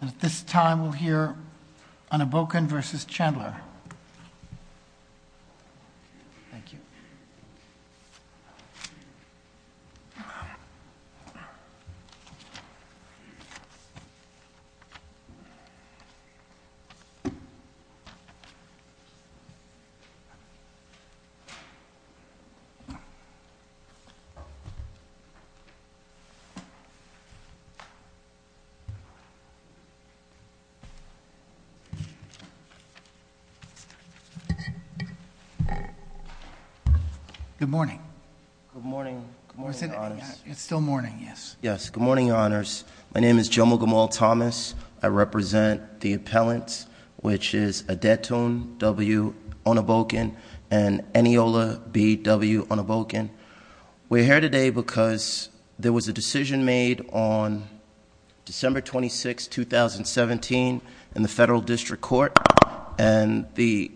And at this time, we'll hear Onibokun v. Chandler. Thank you. Good morning. Good morning. Good morning, your honors. It's still morning, yes. Yes. Good morning, your honors. My name is Jomo Gamal Thomas. I represent the appellants, which is Adetun W. Onibokun and Eniola B. W. Onibokun. We're here today because there was a decision made on December 26, 2017, in the federal district court. And the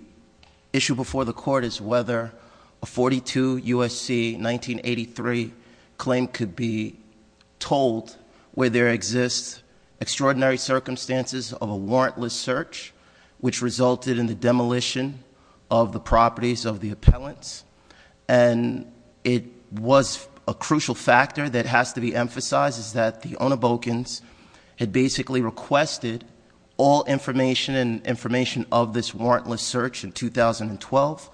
issue before the court is whether a 42 USC 1983 claim could be told where there exists extraordinary circumstances of a warrantless search, which resulted in the demolition of the properties of the appellants. And it was a crucial factor that has to be emphasized is that the Onibokuns had basically requested all information and information of this warrantless search in 2012.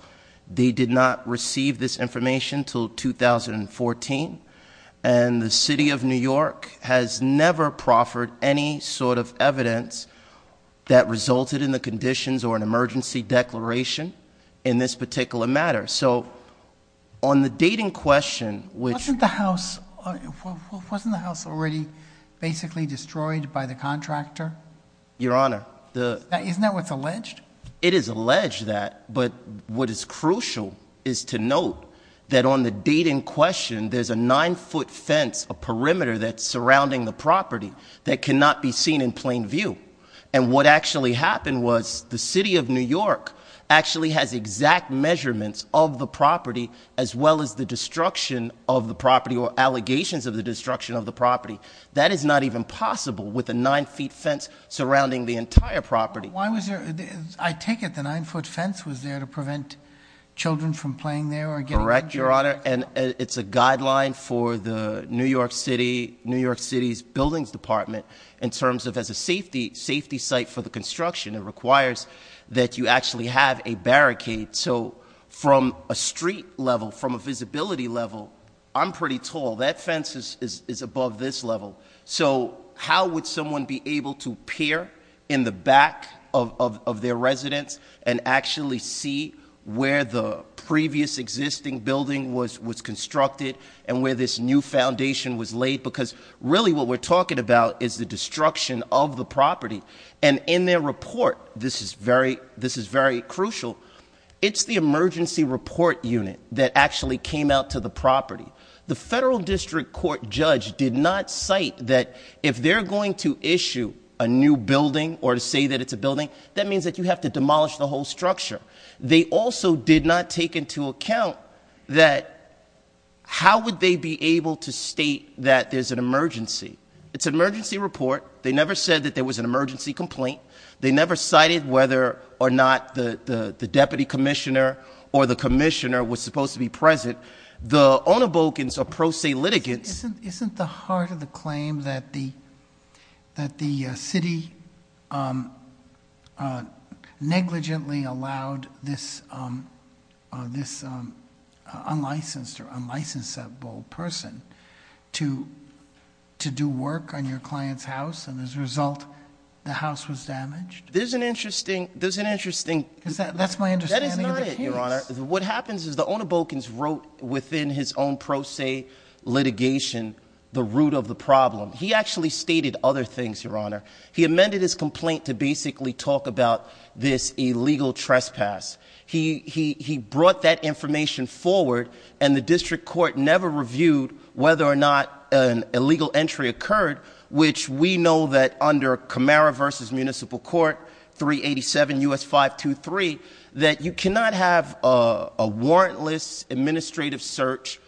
They did not receive this information until 2014. And the city of New York has never proffered any sort of evidence that resulted in the conditions or an emergency declaration in this particular matter. So on the date in question, which- Wasn't the house already basically destroyed by the contractor? Your honor, the- Isn't that what's alleged? It is alleged that, but what is crucial is to note that on the date in question, there's a nine foot fence, a perimeter that's surrounding the property that cannot be seen in plain view. And what actually happened was the city of New York actually has exact measurements of the property, as well as the destruction of the property or allegations of the destruction of the property. That is not even possible with a nine feet fence surrounding the entire property. Why was there, I take it the nine foot fence was there to prevent children from playing there or getting injured? Yes, your honor, and it's a guideline for the New York City's buildings department. In terms of as a safety site for the construction, it requires that you actually have a barricade. So from a street level, from a visibility level, I'm pretty tall. That fence is above this level. So how would someone be able to peer in the back of their residence and actually see where the previous existing building was constructed and where this new foundation was laid, because really what we're talking about is the destruction of the property. And in their report, this is very crucial, it's the emergency report unit that actually came out to the property. The federal district court judge did not cite that if they're going to issue a new building or to say that it's a building, that means that you have to demolish the whole structure. They also did not take into account that how would they be able to state that there's an emergency? It's an emergency report. They never said that there was an emergency complaint. They never cited whether or not the deputy commissioner or the commissioner was supposed to be present. The Onabogans are pro se litigants. Isn't the heart of the claim that the city negligently allowed this unlicensed or unlicensed person to do work on your client's house and as a result, the house was damaged? There's an interesting- That's my understanding of the case. That is not it, your honor. What happens is the Onabogans wrote within his own pro se litigation the root of the problem. He actually stated other things, your honor. He amended his complaint to basically talk about this illegal trespass. He brought that information forward and the district court never reviewed whether or not an illegal entry occurred, which we know that under Camara versus Municipal Court, 387 US 523, that you cannot have a warrantless administrative search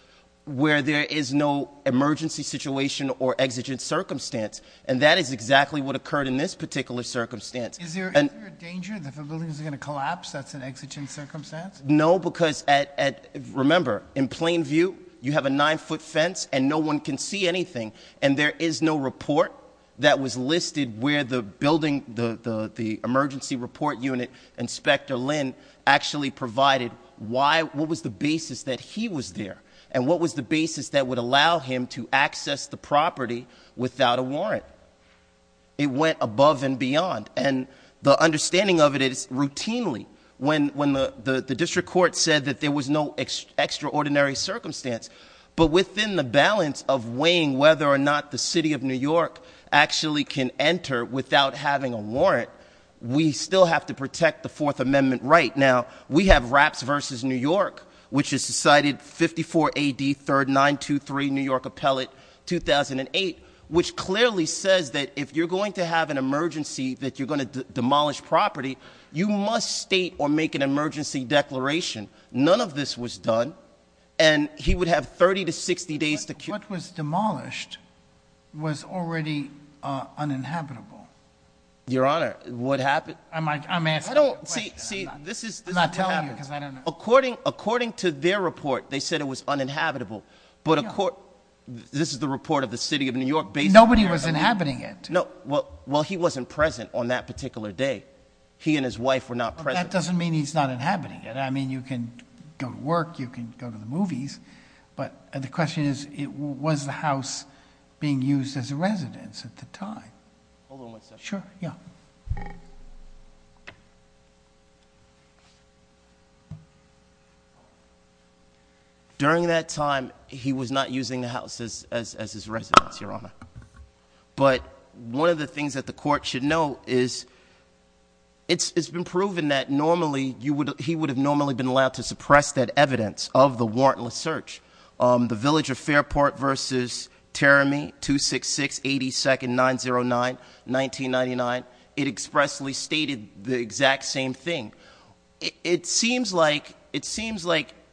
where there is no emergency situation or exigent circumstance. And that is exactly what occurred in this particular circumstance. Is there a danger that the building is going to collapse that's an exigent circumstance? No, because remember, in plain view, you have a nine foot fence and no one can see anything. And there is no report that was listed where the building, the emergency report unit inspector Lynn actually provided why, what was the basis that he was there? And what was the basis that would allow him to access the property without a warrant? It went above and beyond. And the understanding of it is routinely when the district court said that there was no extraordinary circumstance. But within the balance of weighing whether or not the city of New York actually can enter without having a warrant, we still have to protect the Fourth Amendment right now. We have Rapps versus New York, which is decided 54 AD 3923 New York Appellate 2008. Which clearly says that if you're going to have an emergency that you're going to demolish property, you must state or make an emergency declaration. None of this was done, and he would have 30 to 60 days to- What was demolished was already uninhabitable. Your Honor, what happened? I'm asking a question, I'm not telling you because I don't know. According to their report, they said it was uninhabitable, but this is the report of the City of New York- Nobody was inhabiting it. No, well he wasn't present on that particular day. He and his wife were not present. That doesn't mean he's not inhabiting it. I mean, you can go to work, you can go to the movies. But the question is, was the house being used as a residence at the time? Hold on one second. Sure, yeah. During that time, he was not using the house as his residence, Your Honor. But one of the things that the court should know is, it's been proven that normally, he would have normally been allowed to suppress that evidence of the warrantless search. The village of Fairport versus Teremy, 266-82nd-909-1999. It expressly stated the exact same thing. It seems like,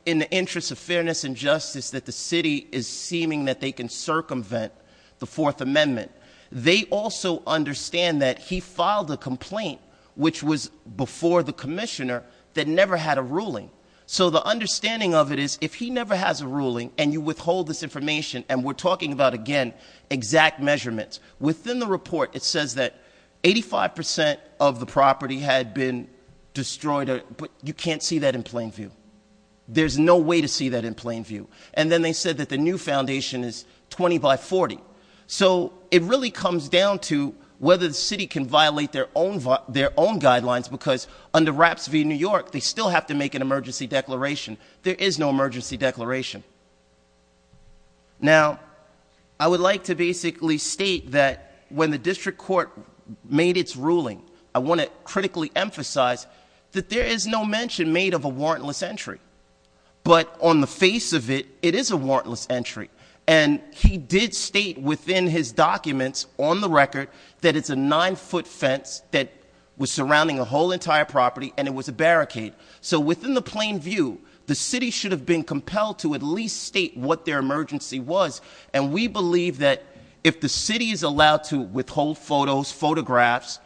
in the interest of fairness and justice, that the city is seeming that they can circumvent the Fourth Amendment. They also understand that he filed a complaint, which was before the commissioner, that never had a ruling. So the understanding of it is, if he never has a ruling, and you withhold this information, and we're talking about, again, exact measurements. Within the report, it says that 85% of the property had been destroyed, but you can't see that in plain view. There's no way to see that in plain view. And then they said that the new foundation is 20 by 40. So it really comes down to whether the city can violate their own guidelines, because under Wraps v. New York, they still have to make an emergency declaration. There is no emergency declaration. Now, I would like to basically state that when the district court made its ruling, I want to critically emphasize that there is no mention made of a warrantless entry. But on the face of it, it is a warrantless entry. And he did state within his documents, on the record, that it's a nine foot fence that was surrounding a whole entire property, and it was a barricade. So within the plain view, the city should have been compelled to at least state what their emergency was. And we believe that if the city is allowed to withhold photos, photographs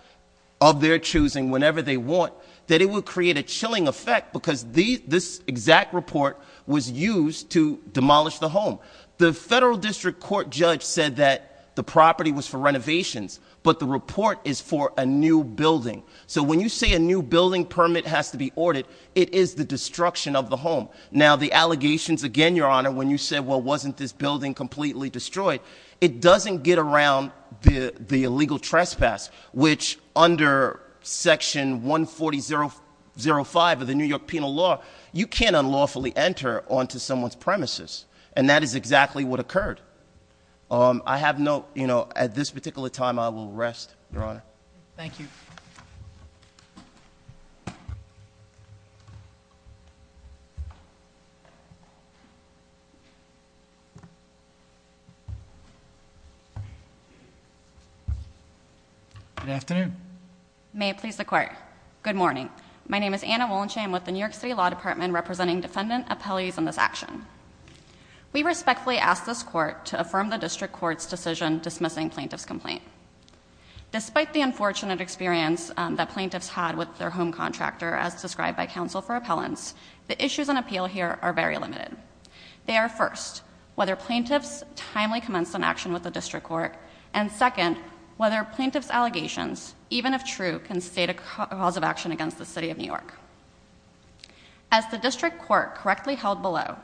of their choosing whenever they want, that it would create a chilling effect because this exact report was used to demolish the home. The federal district court judge said that the property was for renovations, but the report is for a new building. So when you say a new building permit has to be ordered, it is the destruction of the home. Now, the allegations again, Your Honor, when you said, well, wasn't this building completely destroyed? It doesn't get around the illegal trespass, which under section 140.05 of the New York Penal Law, you can't unlawfully enter onto someone's premises, and that is exactly what occurred. I have no, at this particular time, I will rest, Your Honor. Thank you. Good afternoon. May it please the court. Good morning. My name is Anna Wollensham with the New York City Law Department representing defendant appellees in this action. We respectfully ask this court to affirm the district court's decision dismissing plaintiff's complaint. Despite the unfortunate experience that plaintiffs had with their home contractor as described by counsel for appeal here are very limited, they are first, whether plaintiffs timely commence an action with the district court. And second, whether plaintiff's allegations, even if true, can state a cause of action against the city of New York. As the district court correctly held below,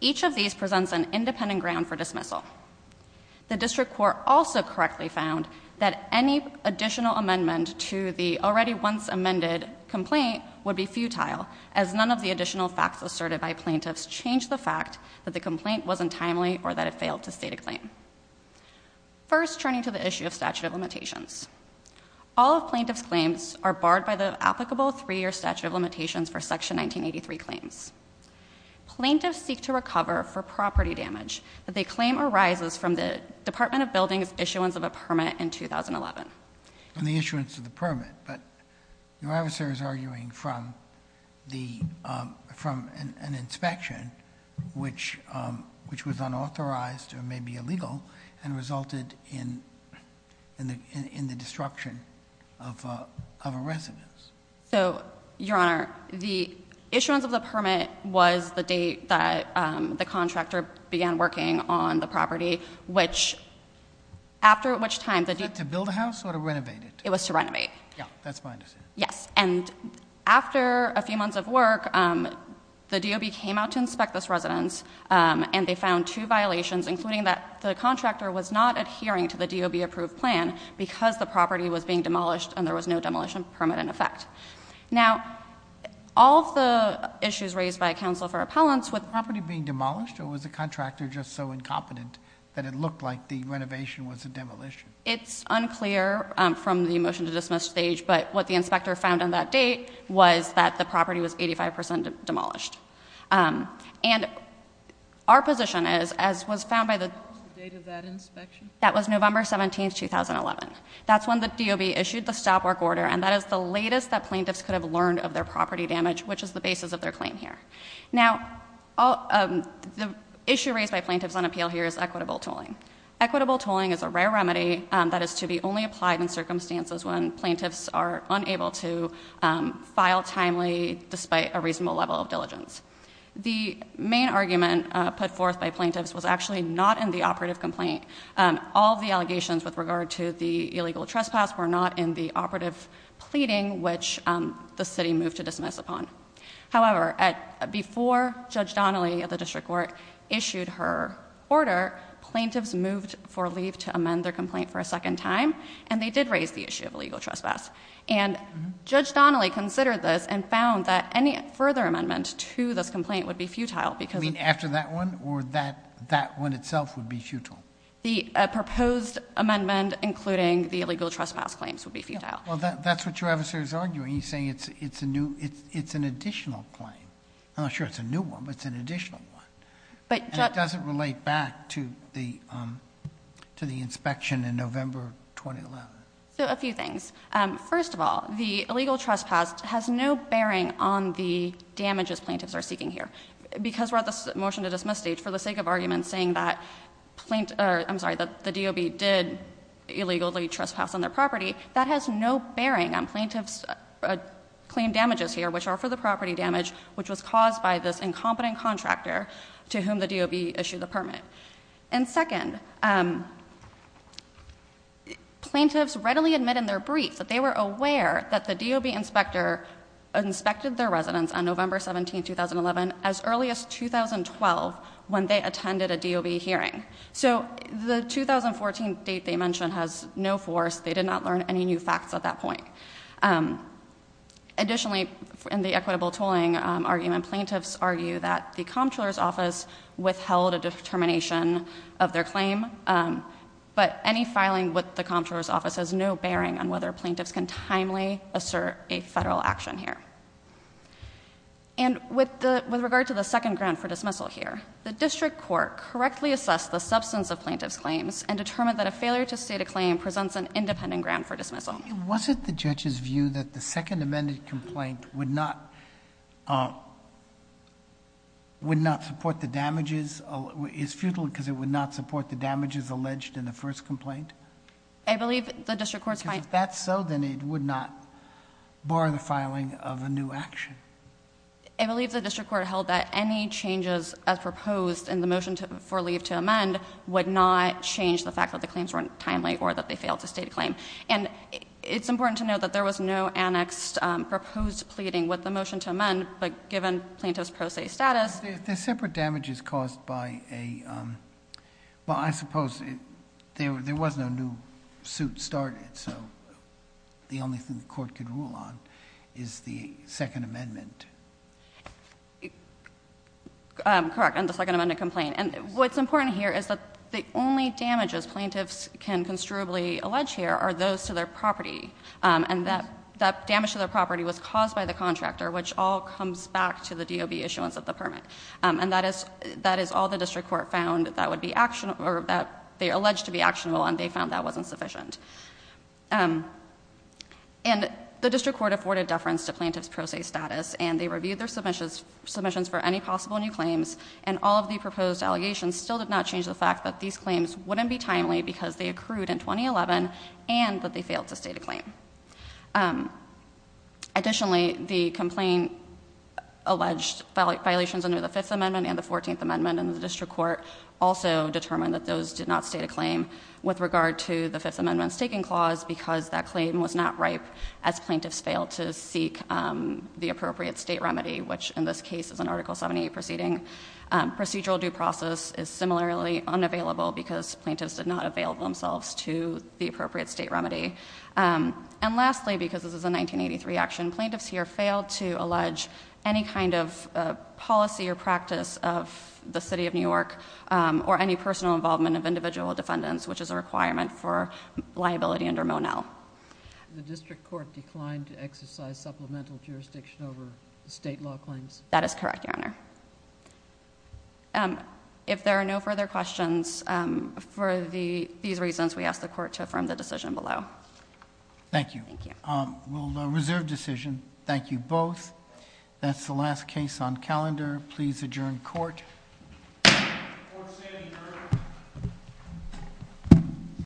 each of these presents an independent ground for dismissal. The district court also correctly found that any additional amendment to the already once amended complaint would be futile, as none of the additional facts asserted by plaintiffs changed the fact that the complaint wasn't timely or that it failed to state a claim. First, turning to the issue of statute of limitations. All of plaintiff's claims are barred by the applicable three year statute of limitations for section 1983 claims. Plaintiffs seek to recover for property damage that they claim arises from the Department of Building's issuance of a permit in 2011. And the issuance of the permit, but your officer is arguing from an inspection, which was unauthorized or maybe illegal, and resulted in the destruction of a residence. So, your honor, the issuance of the permit was the date that the contractor began working on the property, which, after which time- Was that to build a house or to renovate it? It was to renovate. Yeah, that's my understanding. Yes, and after a few months of work, the DOB came out to inspect this residence and they found two violations, including that the contractor was not adhering to the DOB approved plan, because the property was being demolished and there was no demolition permit in effect. Now, all of the issues raised by counsel for appellants with- Was the property being demolished, or was the contractor just so incompetent that it looked like the renovation was a demolition? It's unclear from the motion to dismiss stage, but what the inspector found on that date was that the property was 85% demolished. And our position is, as was found by the- What was the date of that inspection? That was November 17th, 2011. That's when the DOB issued the stop work order, and that is the latest that plaintiffs could have learned of their property damage, which is the basis of their claim here. Now, the issue raised by plaintiffs on appeal here is equitable tolling. Equitable tolling is a rare remedy that is to be only applied in circumstances when plaintiffs are unable to file timely despite a reasonable level of diligence. The main argument put forth by plaintiffs was actually not in the operative complaint. All the allegations with regard to the illegal trespass were not in the operative pleading, which the city moved to dismiss upon. However, before Judge Donnelly of the district court issued her order, plaintiffs moved for leave to amend their complaint for a second time, and they did raise the issue of illegal trespass. And Judge Donnelly considered this and found that any further amendment to this complaint would be futile because- You mean after that one, or that one itself would be futile? The proposed amendment, including the illegal trespass claims, would be futile. Well, that's what your adversary's arguing. He's saying it's an additional claim. I'm not sure it's a new one, but it's an additional one. And it doesn't relate back to the inspection in November 2011. So a few things. First of all, the illegal trespass has no bearing on the damages plaintiffs are seeking here. Because we're at the motion to dismiss stage, for the sake of argument saying that the DOB did illegally trespass on their property, that has no bearing on plaintiff's claim damages here, which are for the property damage, which was caused by this incompetent contractor to whom the DOB issued the permit. And second, plaintiffs readily admit in their brief that they were aware that the DOB inspector inspected their residence on November 17th, 2011, as early as 2012 when they attended a DOB hearing. So the 2014 date they mentioned has no force, they did not learn any new facts at that point. Additionally, in the equitable tolling argument, plaintiffs argue that the comptroller's office withheld a determination of their claim. But any filing with the comptroller's office has no bearing on whether plaintiffs can timely assert a federal action here. And with regard to the second ground for dismissal here, the district court correctly assessed the substance of plaintiff's claims and determined that a failure to state a claim presents an independent ground for dismissal. Was it the judge's view that the second amended complaint would not would not support the damages, is futile because it would not support the damages alleged in the first complaint? I believe the district court's fine. Because if that's so, then it would not bar the filing of a new action. I believe the district court held that any changes as proposed in the motion for leave to amend would not change the fact that the claims weren't timely or that they failed to state a claim. And it's important to note that there was no annexed proposed pleading with the motion to amend, but given plaintiff's pro se status. The separate damage is caused by a, well I suppose there was no new suit started, so the only thing the court could rule on is the second amendment. Correct, and the second amendment complaint. And what's important here is that the only damages plaintiffs can construably allege here are those to their property. And that damage to their property was caused by the contractor, which all comes back to the DOB issuance of the permit. And that is all the district court found that would be actionable, or that they alleged to be actionable, and they found that wasn't sufficient. And the district court afforded deference to plaintiff's pro se status, and they reviewed their submissions for any possible new claims, and all of the proposed allegations still did not change the fact that these claims wouldn't be timely because they accrued in 2011, and that they failed to state a claim. Additionally, the complaint alleged violations under the fifth amendment and the 14th amendment in the district court also determined that those did not state a claim with regard to the fifth amendment's taking clause because that claim was not right as plaintiffs failed to seek the appropriate state remedy, which in this case is an article 78 proceeding. Procedural due process is similarly unavailable because plaintiffs did not avail themselves to the appropriate state remedy. And lastly, because this is a 1983 action, plaintiffs here failed to allege any kind of policy or process which is a requirement for liability under Monell. The district court declined to exercise supplemental jurisdiction over the state law claims? That is correct, your honor. If there are no further questions for these reasons, we ask the court to affirm the decision below. Thank you. Thank you. We'll reserve decision. Thank you both. That's the last case on calendar. Please adjourn court. Court is adjourned.